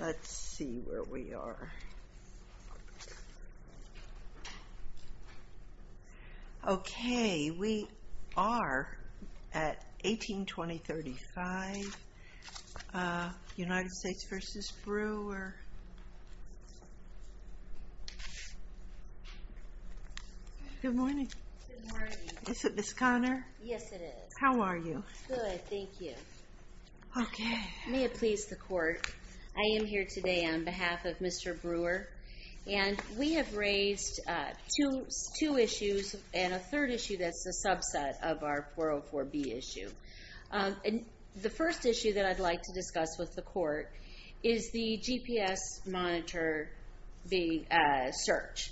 Let's see where we are. Okay, we are at 1820.35 United States v. Brewer. Good I am here today on behalf of Mr. Brewer, and we have raised two issues and a third issue that's a subset of our 404B issue. The first issue that I'd like to discuss with the court is the GPS monitor search.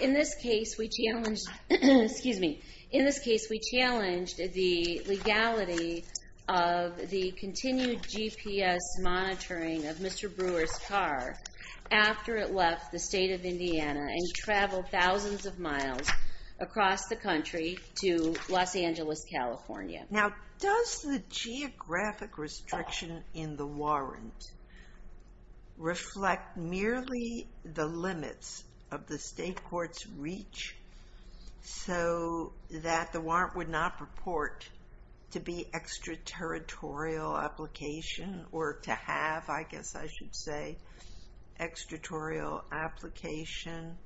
In this case, we challenged the legality of the continued GPS monitoring of Mr. Brewer's car after it left the state of Indiana and traveled thousands of miles across the country to Los Angeles, California. Now, does the geographic restriction in the warrant reflect merely the limits of the state court's reach so that the warrant would not purport to be extraterritorial application or to have, I guess I should say, extraterritorial application?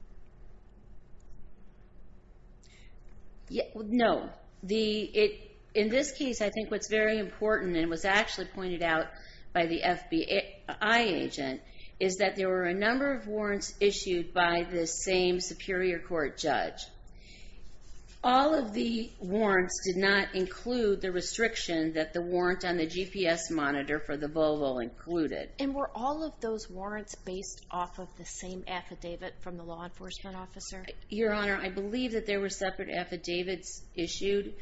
No. In this case, I think what's very important and was actually pointed out by the FBI agent is that there were a number of warrants issued by the same Superior Court judge. All of the warrants did not include the restriction that the warrant on the GPS monitor for the Volvo included. And were all of those warrants based off of the same affidavit from the law enforcement officer? Your Honor, I believe that there were separate affidavits issued.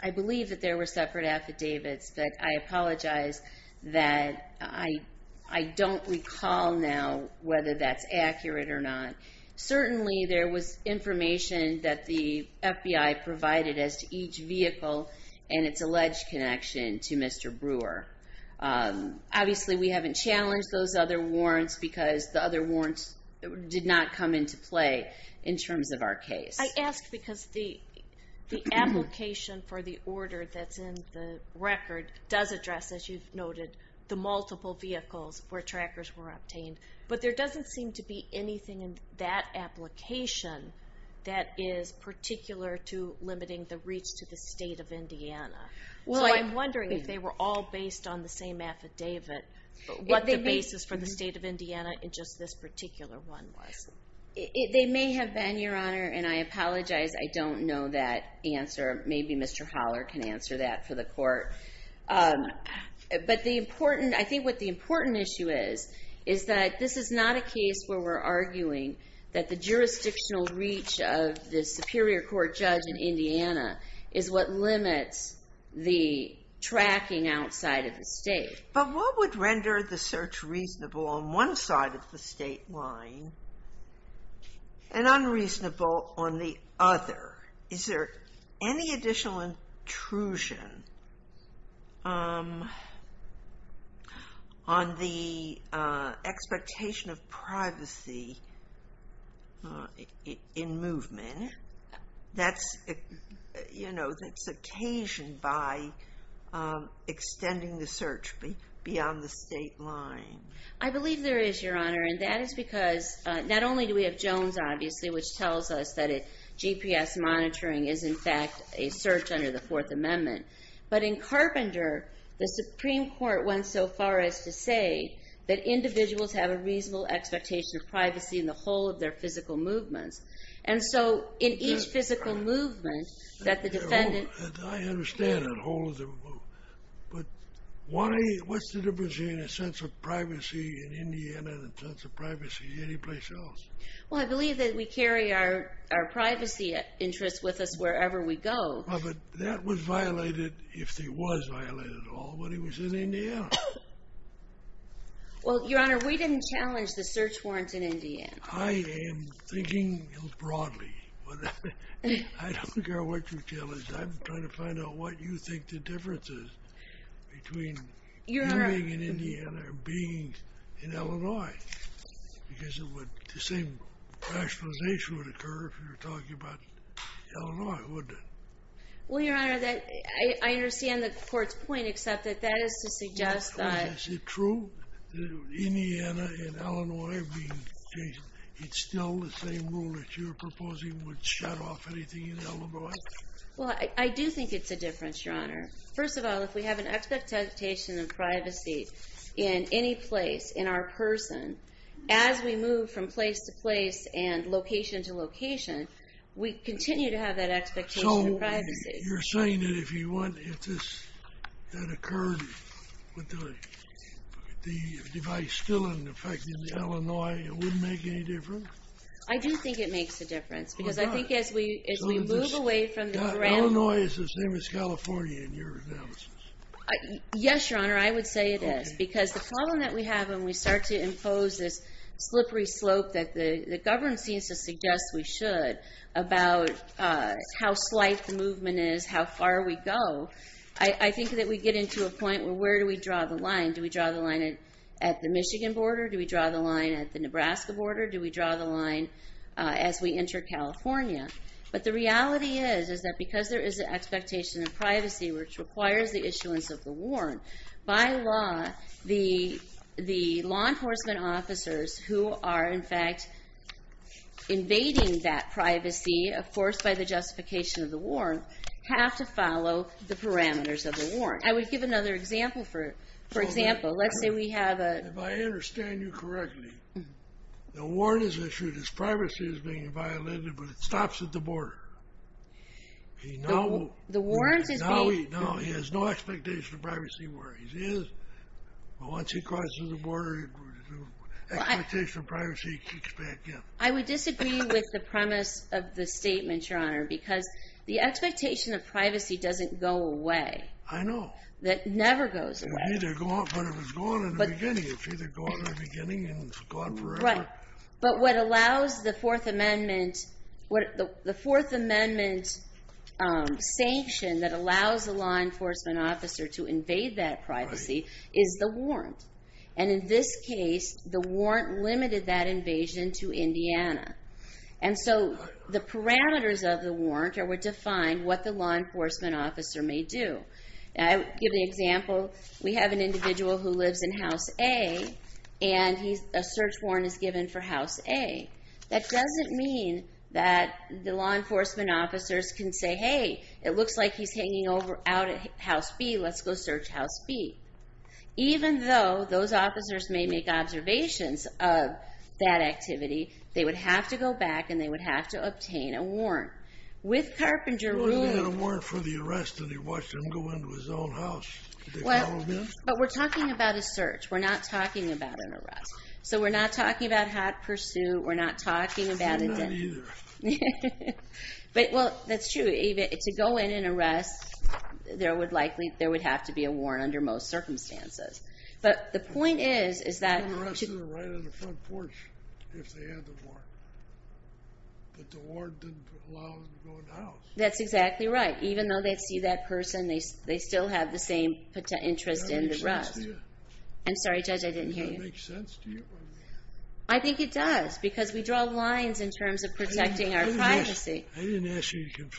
I believe that there were separate affidavits, but I apologize that I don't recall now whether that's accurate or not. Certainly, there was information that the FBI provided as to each vehicle and its alleged connection to Mr. Brewer. Obviously, we haven't challenged those other warrants because the other warrants did not come into play in terms of our case. I ask because the application for the order that's in the record does address, as you've noted, the multiple vehicles where trackers were obtained. But there doesn't seem to be anything in that application that is particular to limiting the reach to the state of Indiana. So I'm wondering if they were all based on the same affidavit, what the basis for the state of Indiana in just this particular one was. They may have been, Your Honor, and I apologize I don't know that answer. Maybe Mr. Holler can This is not a case where we're arguing that the jurisdictional reach of the Superior Court judge in Indiana is what limits the tracking outside of the state. But what would render the search reasonable on one side of the state line and unreasonable on the other? Is there any additional intrusion on the expectation of privacy in movement that's occasioned by extending the search beyond the state line? I believe there is, Your Honor, and that is because not only do we have Jones, obviously, which tells us that GPS monitoring is, in fact, a search under the Fourth Amendment, but in Carpenter, the Supreme Court went so far as to say that individuals have a reasonable expectation of privacy in the whole of their physical movements. And so in each physical movement that the defendant I understand the whole of the movement, but what's the difference in a sense of privacy in Indiana and a sense of privacy anyplace else? Well, I believe that we carry our privacy interests with us wherever we go. Well, but that was violated, if it was violated at all, when he was in Indiana. Well, Your Honor, we didn't challenge the search warrants in Indiana. I am thinking broadly, but I don't care what you tell us. I'm trying to find out what you think the difference is between you being in Indiana and being in Illinois, because the same rationalization would occur if you're talking about Illinois, wouldn't it? Well, Your Honor, I understand the Court's point, except that that is to suggest that... Is it true that Indiana and Illinois are being changed? It's still the same rule that you're proposing would shut off anything in Illinois? Well, I do think it's a difference, Your Honor. First of all, if we have an expectation of privacy in any place, in our person, as we move from place to place and location to location, we continue to have that expectation of privacy. So you're saying that if you want this that occurred with the device still in effect in Illinois, it wouldn't make any difference? I do think it makes a difference, because I think as we move away from the ground... So Illinois is the same as California in your analysis? Yes, Your Honor, I would say it is, because the problem that we have when we start to impose this slippery slope that the government seems to suggest we should about how slight the movement is, how far we go, I think that we get into a point where where do we draw the line? Do we draw the line at the Michigan border? Do we draw the line at the Nebraska border? Do we draw the line as we enter California? But the reality is, is that because there is an expectation of privacy, which requires the issuance of the warrant, by law, the law enforcement officers who are in fact invading that privacy, of course, by the justification of the warrant, have to follow the parameters of the warrant. I would give another example, for example, let's say we have a... If I understand you correctly, the warrant is issued, his privacy is being violated, but it stops at the border. Now he has no expectation of privacy where he is, but once he crosses the border, the expectation of privacy kicks back in. I would disagree with the premise of the statement, Your Honor, because the expectation of privacy doesn't go away. I know. It never goes away. It's either gone, but if it's gone in the beginning, it's either gone in the beginning and it's gone forever. But what allows the Fourth Amendment, what the Fourth Amendment sanction that allows the law enforcement officer to invade that privacy is the warrant. And in this case, the warrant limited that invasion to Indiana. And so the parameters of the warrant are what define what the law enforcement officer may do. I'll give an example. We have an individual who lives in House A and a search warrant is given for House A. That doesn't mean that the law enforcement officers can say, hey, it looks like he's hanging out at House B, let's go search House B. Even though those officers may make observations of that activity, they would have to go back and they would have to obtain a warrant. With Carpenter Rule... He was given a warrant for the arrest and he watched him go into his own house. Did they follow him in? But we're talking about a search. We're not talking about an arrest. So we're not talking about hot pursuit. We're not talking about... I'm not either. Well, that's true. To go in and arrest, there would have to be a warrant under most circumstances. But the point is, is that... The arrest is right on the front porch if they had the warrant. But the warrant didn't allow them to go in the house. That's exactly right. Even though they'd see that person, they still have the same interest in the arrest. Does that make sense to you? I'm sorry, Judge, I didn't hear you. Does that make sense to you? I think it does because we draw lines in terms of protecting our privacy. I didn't ask you to make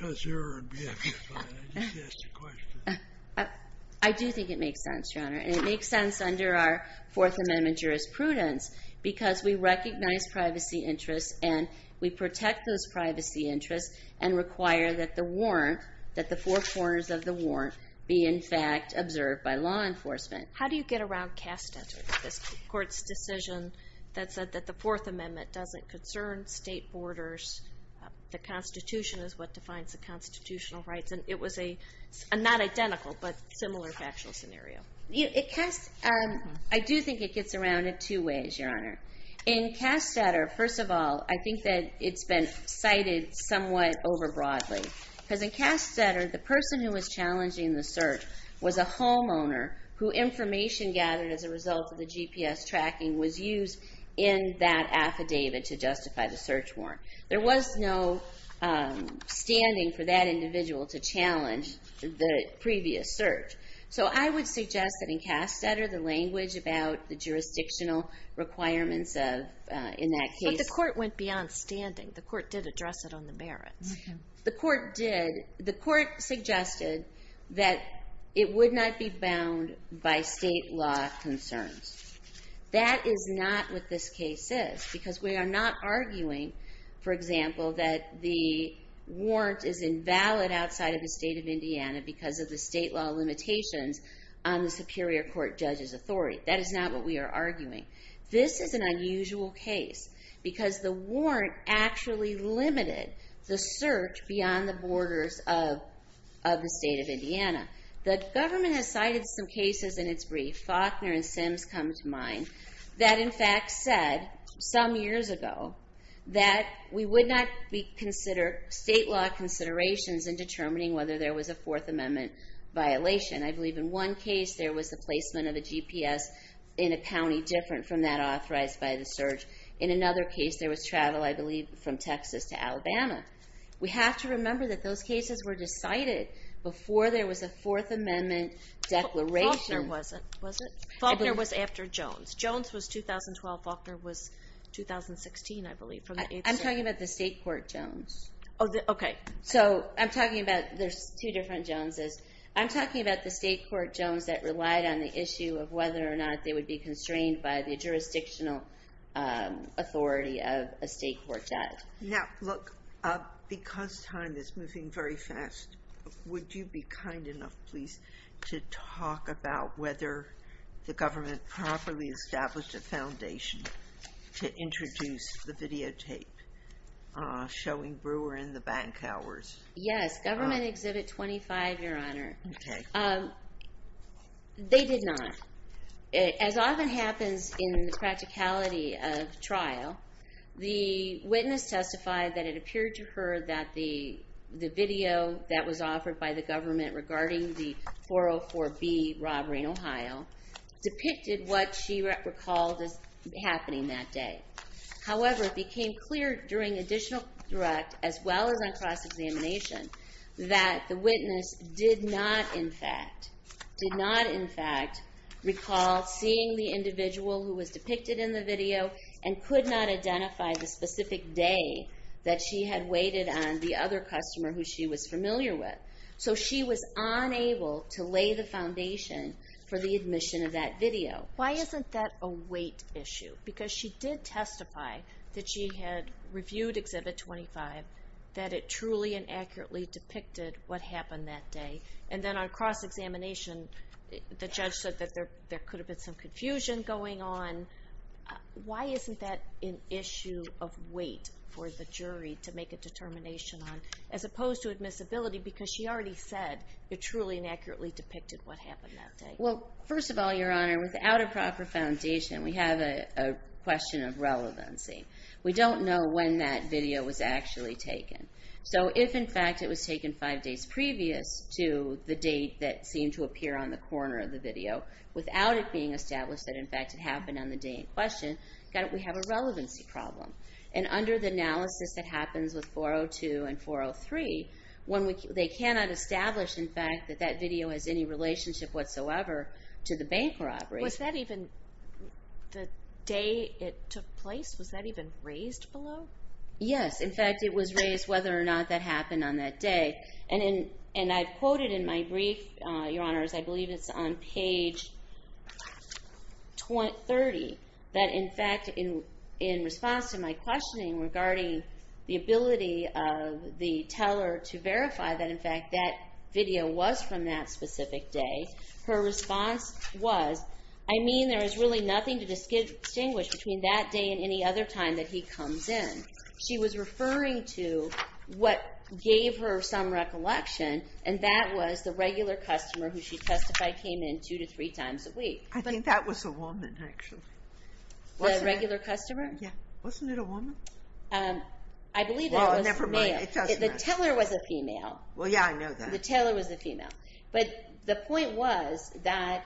sense, Your Honor. And it makes sense under our Fourth Amendment jurisprudence because we recognize privacy interests and we protect those privacy interests and require that the warrant, that the four corners of the warrant, be, in fact, observed by law enforcement. How do you get around Cass' decision that said that the Fourth Amendment doesn't concern state borders? The Constitution is what defines the constitutional rights. And it was a not identical, but similar factual scenario. I do think it gets around in two ways, Your Honor. In Cass Sutter, first of all, I think that it's been cited somewhat over broadly. Because in Cass Sutter, the person who was challenging the search was a homeowner who information gathered as a result of the GPS tracking was used in that affidavit to justify the search warrant. There was no standing for that individual to challenge the previous search. So I would suggest that in Cass Sutter, the language about the jurisdictional requirements of, in that case... But the court went beyond standing. The court did address it on the merits. The court did. The court suggested that it would not be bound by state law concerns. That is not what this case is. Because we are not arguing, for example, that the warrant is invalid outside of the state of Indiana because of the state law limitations on the Superior Court Judge's authority. That is not what we are arguing. This is an unusual case. Because the warrant actually limited the search beyond the borders of the state of Indiana. The government has cited some cases in its brief, Faulkner and Sims come to mind, that in fact said some years ago that we would not consider state law considerations in determining whether there was a Fourth Amendment violation. I believe in one case there was the placement of the GPS in a county different from that authorized by the search. In another case there was travel, I believe, from Texas to Alabama. We have to remember that those cases were decided before there was a Fourth Amendment declaration. Faulkner wasn't, was it? Faulkner was after Jones. Jones was 2012. Faulkner was 2016, I believe. I'm talking about the state court Jones. Okay. So I'm talking about, there's two different Joneses. I'm talking about the state court Jones that relied on the issue of whether or not they would be constrained by the jurisdictional authority of a state court judge. Now look, because time is moving very fast, would you be kind enough, please, to talk about whether the government properly established a foundation to introduce the videotape showing Brewer in the bank hours? Yes, Government Exhibit 25, Your Honor. Okay. Um, they did not. As often happens in the practicality of trial, the witness testified that it appeared to her that the video that was offered by the government regarding the 404B robbery in Ohio depicted what she recalled as happening that day. However, it became clear during additional direct as well as on cross-examination that the witness did not, in fact, did not, in fact, recall seeing the individual who was depicted in the video and could not identify the specific day that she had waited on the other customer who she was familiar with. So she was unable to lay the foundation for the admission of that video. Why isn't that a wait issue? Because she did testify that she had reviewed Exhibit 25, that it truly and accurately depicted what happened that day. And then on cross-examination, the judge said that there could have been some confusion going on. Why isn't that an issue of wait for the jury to make a determination on, as opposed to admissibility, because she already said it truly and accurately depicted what happened that day. We don't know when that video was actually taken. So if, in fact, it was taken five days previous to the date that seemed to appear on the corner of the video, without it being established that, in fact, it happened on the day in question, we have a relevancy problem. And under the analysis that happens with 402 and 403, they cannot establish, in fact, that that the day it took place, was that even raised below? Yes. In fact, it was raised whether or not that happened on that day. And I've quoted in my brief, Your Honors, I believe it's on page 20, 30, that, in fact, in response to my questioning regarding the ability of the teller to verify that, in fact, that video was from that specific day, her response was, I mean, there is really nothing to distinguish between that day and any other time that he comes in. She was referring to what gave her some recollection, and that was the regular customer who she testified came in two to three times a week. I think that was a woman, actually. Was it a regular customer? Yeah. Wasn't it a woman? I believe it was a male. Well, never mind. It doesn't matter. The teller was a female. Well, yeah, I know that. The teller was a female. But the point was that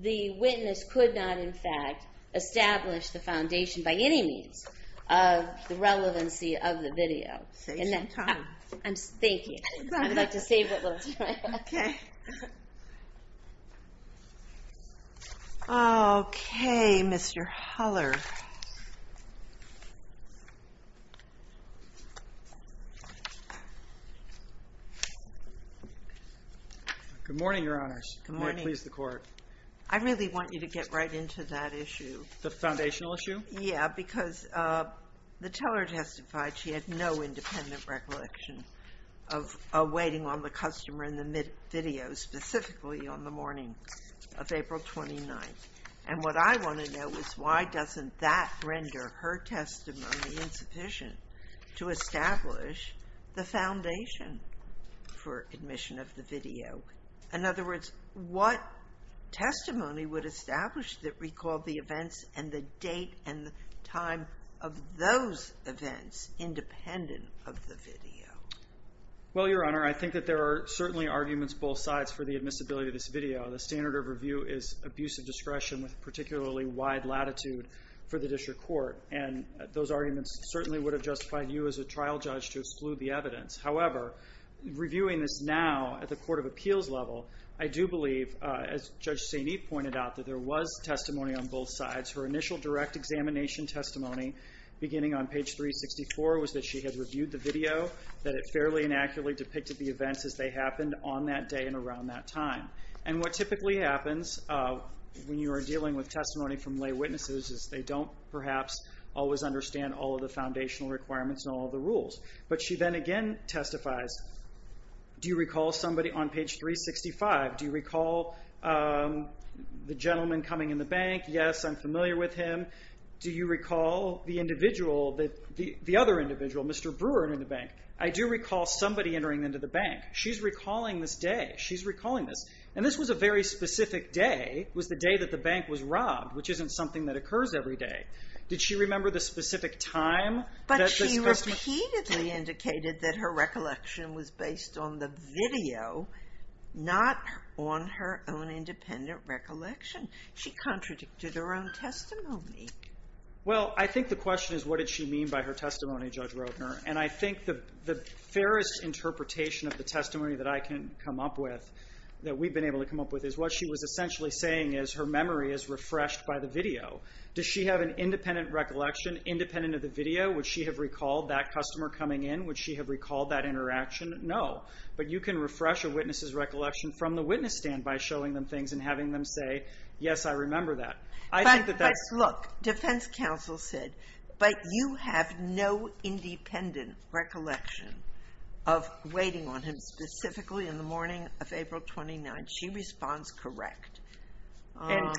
the witness could not, in fact, establish the foundation by any means of the relevancy of the video. Thank you. I'd like to save it. Okay. Okay, Mr. Huller. Good morning, Your Honors. Good morning. May it please the Court. I really want you to get right into that issue. The foundational issue? Yeah, because the teller testified she had no independent recollection of waiting on the customer in the mid-video, specifically on the morning of April 29th. And what I want to know is why doesn't this teller have any recollection of the customer's presence? Does that render her testimony insufficient to establish the foundation for admission of the video? In other words, what testimony would establish that recalled the events and the date and the time of those events, independent of the video? Well, Your Honor, I think that there are certainly arguments both sides for the admissibility of this video. The standard of review is abusive discretion with particularly wide latitude for the district court. And those arguments certainly would have justified you as a trial judge to exclude the evidence. However, reviewing this now at the court of appeals level, I do believe, as Judge St. Eve pointed out, that there was testimony on both sides. Her initial direct examination testimony, beginning on page 364, was that she had reviewed the video. That it fairly and accurately depicted the events as they happened on that day and around that time. And what typically happens when you are dealing with testimony from lay witnesses is they don't, perhaps, always understand all of the foundational requirements and all of the rules. But she then again testifies, do you recall somebody on page 365? Do you recall the gentleman coming in the bank? Yes, I'm familiar with him. Do you recall the other individual, Mr. Brewer, in the bank? I do recall somebody entering into the bank. She's recalling this day. She's recalling this. And this was a very specific day. It was the day that the bank was robbed, which isn't something that occurs every day. Did she remember the specific time? But she repeatedly indicated that her recollection was based on the video, not on her own independent recollection. She contradicted her own testimony. Well, I think the question is, what did she mean by her testimony, Judge Roedner? And I think the fairest interpretation of the testimony that I can come up with, that we've been able to come up with, is what she was essentially saying is her memory is refreshed by the video. Does she have an independent recollection, independent of the video? Would she have recalled that customer coming in? Would she have recalled that interaction? No. But you can refresh a witness's recollection from the witness stand by showing them things and having them say, yes, I remember that. But look, defense counsel said, but you have no independent recollection of waiting on him, specifically in the morning of April 29th. She responds, correct. And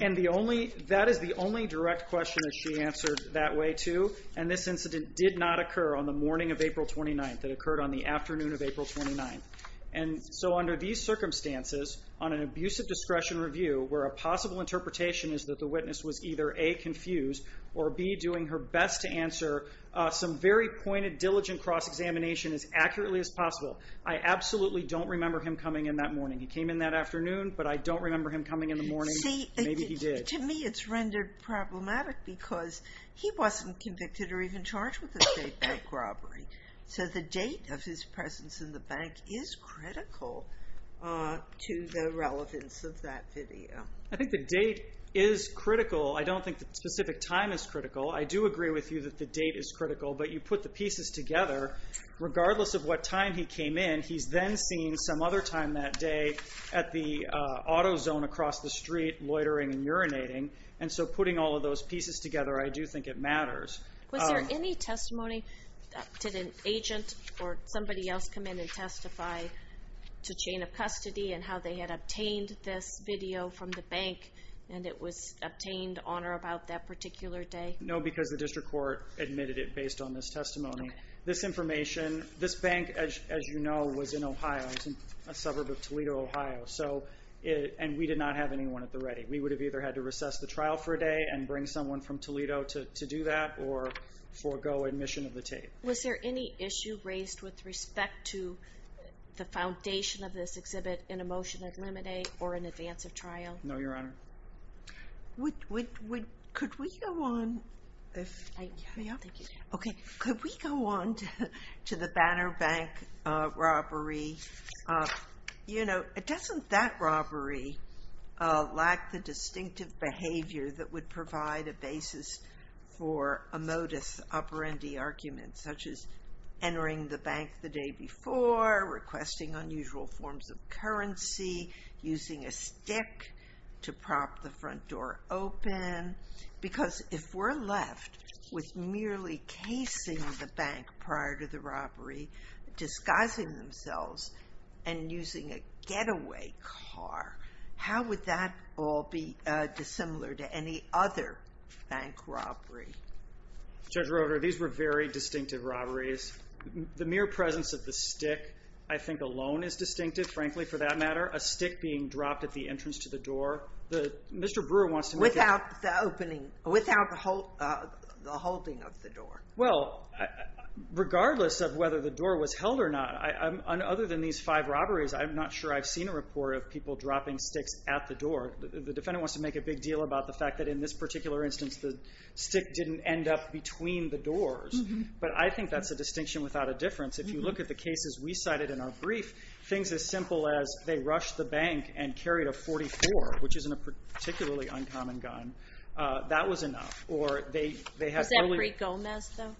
that is the only direct question that she answered that way, too. And this incident did not occur on the morning of April 29th. It occurred on the afternoon of April 29th. And so under these circumstances, on an abusive discretion review, where a possible interpretation is that the witness was either A, confused, or B, doing her best to answer some very pointed, diligent cross-examination as accurately as possible, I absolutely don't remember him coming in that morning. He came in that afternoon, but I don't remember him coming in the morning. Maybe he did. See, to me it's rendered problematic because he wasn't convicted or even charged with a state bank robbery. So the date of his presence in the bank is critical to the relevance of that video. I think the date is critical. I don't think the specific time is critical. I do agree with you that the date is critical, but you put the pieces together. Regardless of what time he came in, he's then seen some other time that day at the auto zone across the street, loitering and urinating. And so putting all of those pieces together, I do think it matters. Was there any testimony? Did an agent or somebody else come in and testify to chain of custody and how they had obtained this video from the bank and it was obtained on or about that particular day? No, because the district court admitted it based on this testimony. This information, this bank, as you know, was in Ohio. It's a suburb of Toledo, Ohio. And we did not have anyone at the ready. We would have either had to recess the trial for a day and bring someone from Toledo to do that, or forego admission of the tape. Was there any issue raised with respect to the foundation of this exhibit in a motion to eliminate or in advance of trial? No, Your Honor. Could we go on to the Banner Bank robbery? Doesn't that robbery lack the distinctive behavior that would provide a basis for a modus operandi argument, such as entering the bank the day before, requesting unusual forms of currency, using a stick to prop the front door open? Because if we're left with merely casing the bank prior to the robbery, disguising themselves, and using a getaway car, how would that all be dissimilar to any other bank robbery? Judge Roeder, these were very distinctive robberies. The mere presence of the stick, I think, alone is distinctive, frankly, for that matter. A stick being dropped at the entrance to the door. Mr. Brewer wants to make it... Without the opening, without the holding of the door. Well, regardless of whether the door was held or not, other than these five robberies, I'm not sure I've seen a report of people dropping sticks at the door. The defendant wants to make a big deal about the fact that in this particular instance, the stick didn't end up between the doors. But I think that's a distinction without a difference. If you look at the cases we cited in our brief, things as simple as they rushed the bank and carried a .44, which isn't a particularly uncommon gun, that was enough. Was that pre-Gomez, though?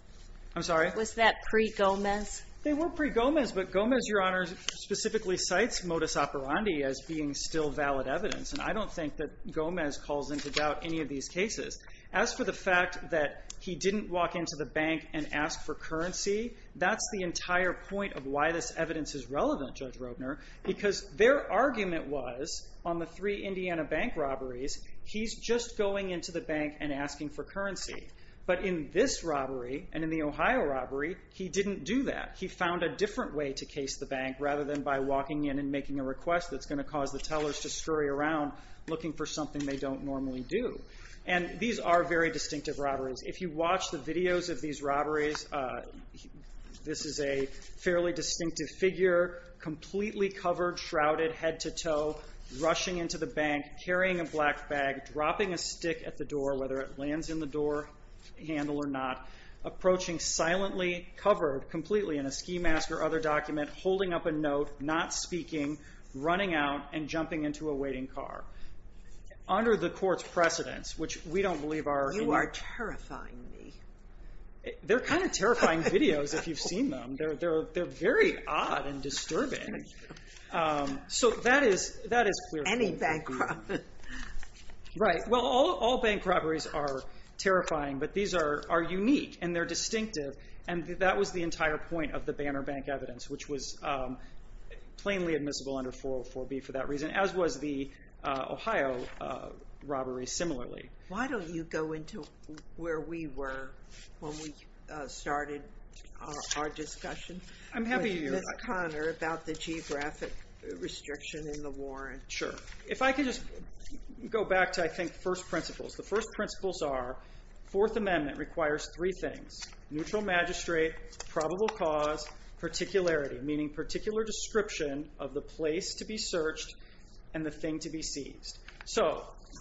I'm sorry? Was that pre-Gomez? They were pre-Gomez, but Gomez, Your Honor, specifically cites modus operandi as being still valid evidence. And I don't think that Gomez calls into doubt any of these cases. As for the fact that he didn't walk into the bank and ask for currency, that's the entire point of why this evidence is relevant, Judge Roedner, because their argument was, on the three Indiana bank robberies, he's just going into the bank and asking for currency. But in this robbery, and in the Ohio robbery, he didn't do that. He found a different way to case the bank, rather than by walking in and making a request that's going to cause the tellers to scurry around looking for something they don't normally do. And these are very distinctive robberies. If you watch the videos of these robberies, this is a fairly distinctive figure, completely covered, shrouded, head-to-toe, rushing into the bank, carrying a black bag, dropping a stick at the door, whether it lands in the door or not. Approaching silently, covered, completely, in a ski mask or other document, holding up a note, not speaking, running out, and jumping into a waiting car. Under the court's precedence, which we don't believe are... You are terrifying me. They're kind of terrifying videos, if you've seen them. They're very odd and disturbing. Any bank robbery. Right. Well, all bank robberies are terrifying, but these are unique, and they're distinctive, and that was the entire point of the Banner Bank evidence, which was plainly admissible under 404B for that reason, as was the Ohio robbery, similarly. Why don't you go into where we were when we started our discussion with Ms. Conner about the geographic restriction and the warrant? Sure. If I could just go back to, I think, first principles. The first principles are Fourth Amendment requires three things. Neutral magistrate, probable cause, particularity, meaning particular description of the place to be searched and the thing to be seized.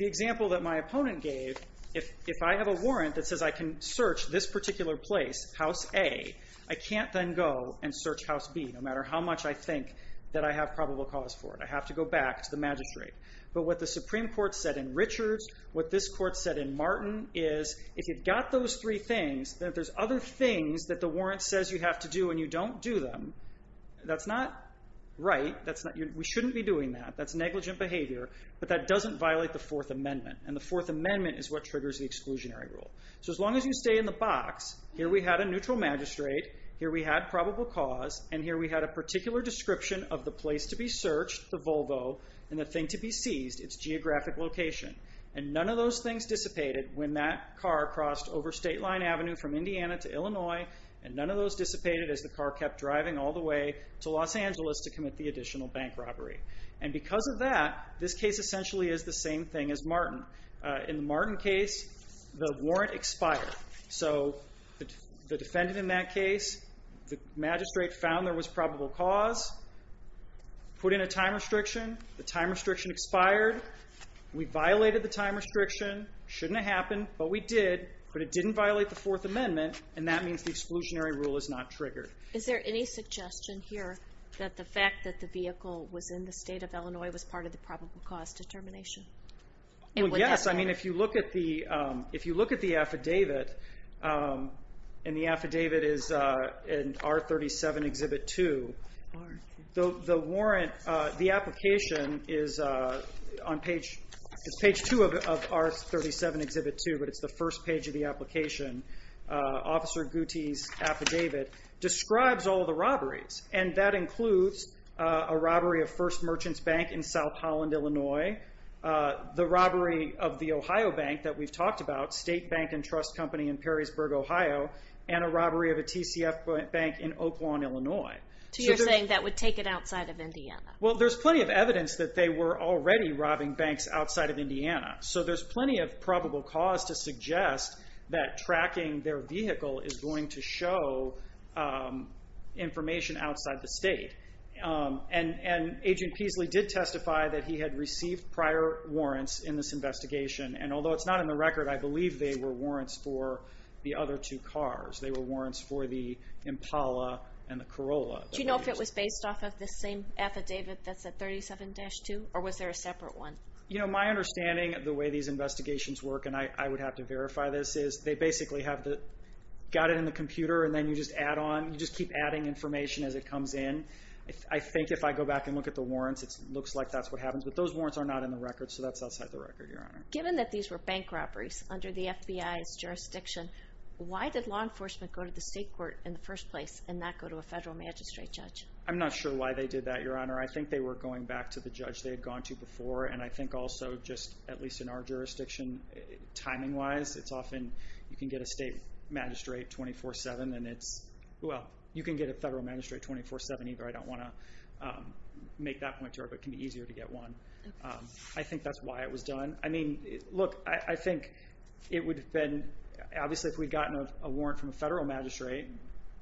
The example that my opponent gave, if I have a warrant that says I can search this particular place, House A, I can't then go and search House B, no matter how much I think that I have probable cause for it. I have to go back to the magistrate. But what the Supreme Court said in Richards, what this court said in Martin, is if you've got those three things, then if there's other things that the warrant says you have to do and you don't do them, that's not right. We shouldn't be doing that. That's negligent behavior, but that doesn't violate the Fourth Amendment, and the Fourth Amendment is what triggers the exclusionary rule. As long as you stay in the box, here we had a neutral magistrate, here we had probable cause, and here we had a particular description of the place to be searched, the Volvo, and the thing to be seized, its geographic location. None of those things dissipated when that car crossed over State Line Avenue from Indiana to Illinois, and none of those dissipated as the car kept driving all the way to Los Angeles to commit the additional bank robbery. And because of that, this case essentially is the same thing as Martin. In the Martin case, the warrant expired, so the defendant in that case, the magistrate found there was probable cause, put in a time restriction, the time restriction expired, we violated the time restriction, shouldn't have happened, but we did, but it didn't violate the Fourth Amendment, and that means the exclusionary rule is not triggered. Is there any suggestion here that the fact that the vehicle was in the state of Illinois was part of the probable cause determination? Yes, if you look at the affidavit, and the affidavit is in R37 Exhibit 2, the application is on page 2 of R37 Exhibit 2, but it's the first page of the application. Officer Gutti's affidavit describes all the robberies, and that includes a robbery of First Merchants Bank in South Holland, Illinois, the robbery of the Ohio Bank that we've talked about, State Bank and Trust Company in Perrysburg, Ohio, and a robbery of a TCF Bank in Oak Lawn, Illinois. So you're saying that would take it outside of Indiana? Well, there's plenty of evidence that they were already robbing banks outside of Indiana, so there's plenty of probable cause to suggest that tracking their vehicle is going to show information outside the state. And Agent Peasley did testify that he had received prior warrants in this investigation, and although it's not in the record, I believe they were warrants for the other two cars. They were warrants for the Impala and the Corolla. Do you know if it was based off of the same affidavit that's at R37-2, or was there a separate one? You know, my understanding of the way these investigations work, and I would have to verify this, is they basically have got it in the computer, and then you just add on, you just keep adding information as it comes in. I think if I go back and look at the warrants, it looks like that's what happens, but those warrants are not in the record, so that's outside the record, Your Honor. Given that these were bank robberies under the FBI's jurisdiction, why did law enforcement go to the state court in the first place and not go to a federal magistrate judge? I'm not sure why they did that, Your Honor. I think they were going back to the judge they had gone to before, and I think also, just at least in our jurisdiction, timing-wise, it's often you can get a state magistrate 24-7, and it's – well, you can get a federal magistrate 24-7 either. I don't want to make that point to her, but it can be easier to get one. I think that's why it was done. I mean, look, I think it would have been – obviously, if we had gotten a warrant from a federal magistrate –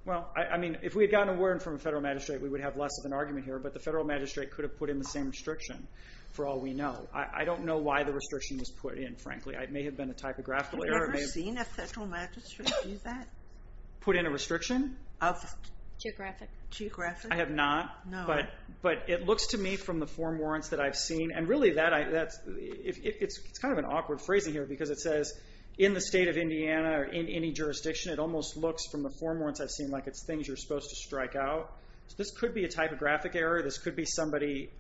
well, I mean, if we had gotten a warrant from a federal magistrate, we would have less of an argument here, but the federal magistrate could have put in the same restriction, for all we know. I don't know why the restriction was put in, frankly. It may have been a typographical error. Have you ever seen a federal magistrate do that? Put in a restriction? Of geographic? I have not. No. But it looks to me, from the form warrants that I've seen – and really, it's kind of an awkward phrasing here, because it says, in the state of Indiana, or in any jurisdiction, it almost looks, from the form warrants I've seen, like it's things you're supposed to strike out. This could be a typographic error. This could be somebody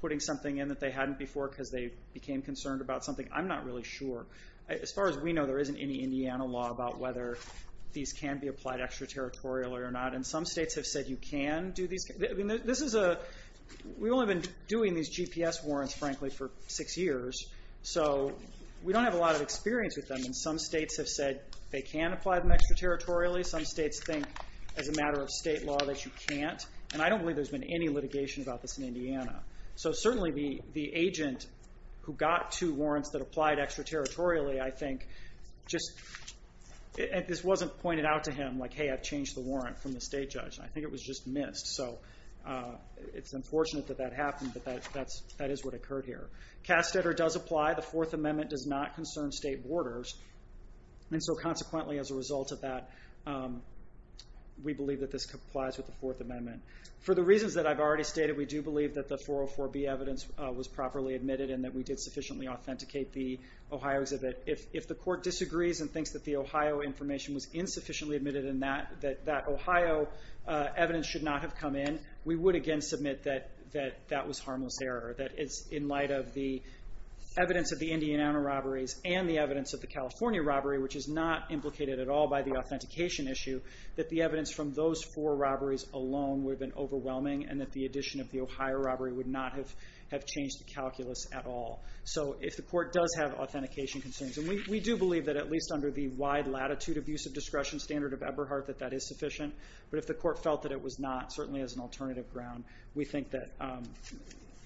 putting something in that they hadn't before because they became concerned about something. I'm not really sure. As far as we know, there isn't any Indiana law about whether these can be applied extraterritorially or not, and some states have said you can do these. We've only been doing these GPS warrants, frankly, for six years, so we don't have a lot of experience with them. Some states have said they can apply them extraterritorially. Some states think, as a matter of state law, that you can't, and I don't believe there's been any litigation about this in Indiana. So certainly, the agent who got two warrants that applied extraterritorially, I think, just – and this wasn't pointed out to him, like, hey, I've changed the warrant from the state judge. I think it was just missed, so it's unfortunate that that happened, but that is what occurred here. Castator does apply. The Fourth Amendment does not concern state borders, and so consequently, as a result of that, we believe that this complies with the Fourth Amendment. For the reasons that I've already stated, we do believe that the 404B evidence was properly admitted and that we did sufficiently authenticate the Ohio exhibit. If the court disagrees and thinks that the Ohio information was insufficiently admitted and that that Ohio evidence should not have come in, we would, again, submit that that was harmless error. That it's in light of the evidence of the Indiana robberies and the evidence of the California robbery, which is not implicated at all by the authentication issue, that the evidence from those four robberies alone would have been overwhelming and that the addition of the Ohio robbery would not have changed the calculus at all. So if the court does have authentication concerns – and we do believe that, at least under the wide latitude abuse of discretion standard of Eberhardt, that that is sufficient. But if the court felt that it was not, certainly as an alternative ground, we think that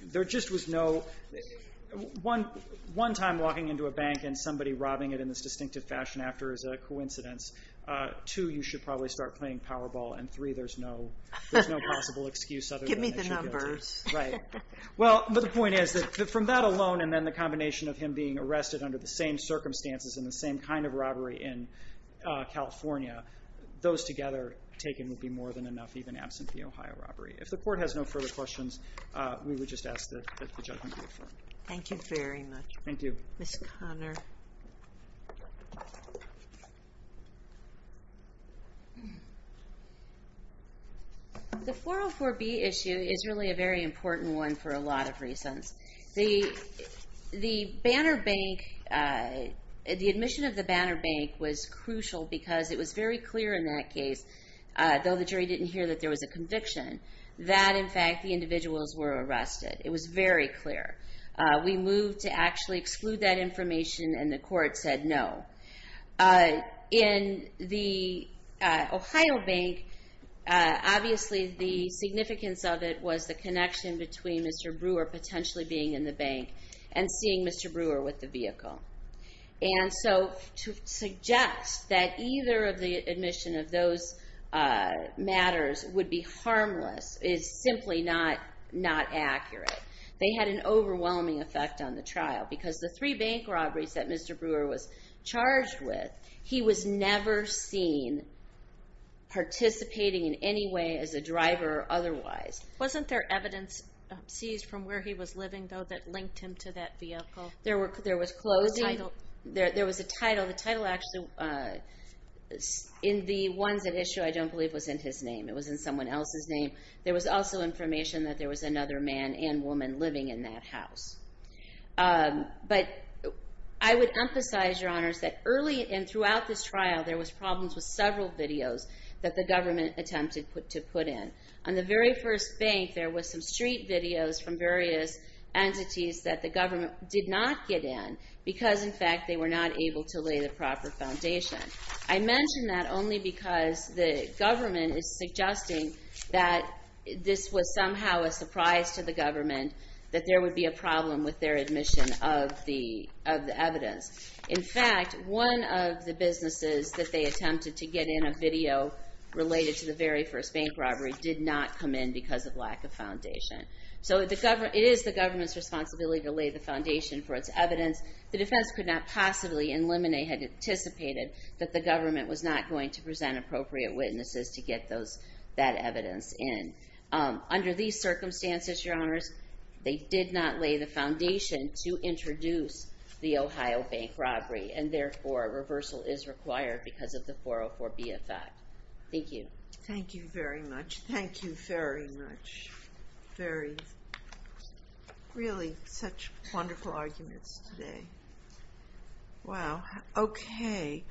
there just was no – one time walking into a bank and somebody robbing it in this distinctive fashion after is a coincidence. Two, you should probably start playing Powerball. And three, there's no possible excuse other than that she gets it. Give me the numbers. Right. Well, but the point is that from that alone and then the combination of him being arrested under the same circumstances and the same kind of robbery in California, those together taken would be more than enough, even absent the Ohio robbery. If the court has no further questions, we would just ask that the judgment be affirmed. Thank you very much. Thank you. Ms. Conner. The 404B issue is really a very important one for a lot of reasons. The admission of the Banner Bank was crucial because it was very clear in that case, though the jury didn't hear that there was a conviction, that in fact the individuals were arrested. It was very clear. We moved to actually exclude that information and the court said no. In the Ohio bank, obviously the significance of it was the connection between Mr. Brewer potentially being in the bank and seeing Mr. Brewer with the vehicle. And so to suggest that either of the admission of those matters would be harmless is simply not accurate. They had an overwhelming effect on the trial because the three bank robberies that Mr. Brewer was charged with, he was never seen participating in any way as a driver otherwise. Wasn't there evidence seized from where he was living, though, that linked him to that vehicle? There was clothing. The title. There was a title. The title actually in the ones that issue, I don't believe, was in his name. It was in someone else's name. There was also information that there was another man and woman living in that house. But I would emphasize, Your Honors, that early and throughout this trial, there was problems with several videos that the government attempted to put in. On the very first bank, there was some street videos from various entities that the government did not get in because, in fact, they were not able to lay the proper foundation. I mention that only because the government is suggesting that this was somehow a surprise to the government, that there would be a problem with their admission of the evidence. In fact, one of the businesses that they attempted to get in a video related to the very first bank robbery did not come in because of lack of foundation. So it is the government's responsibility to lay the foundation for its evidence. The defense could not possibly, and Lemonet had anticipated, that the government was not going to present appropriate witnesses to get that evidence in. Under these circumstances, Your Honors, they did not lay the foundation to introduce the Ohio bank robbery. And therefore, a reversal is required because of the 404B effect. Thank you. Thank you very much. Thank you very much. Really such wonderful arguments today. Wow. Okay.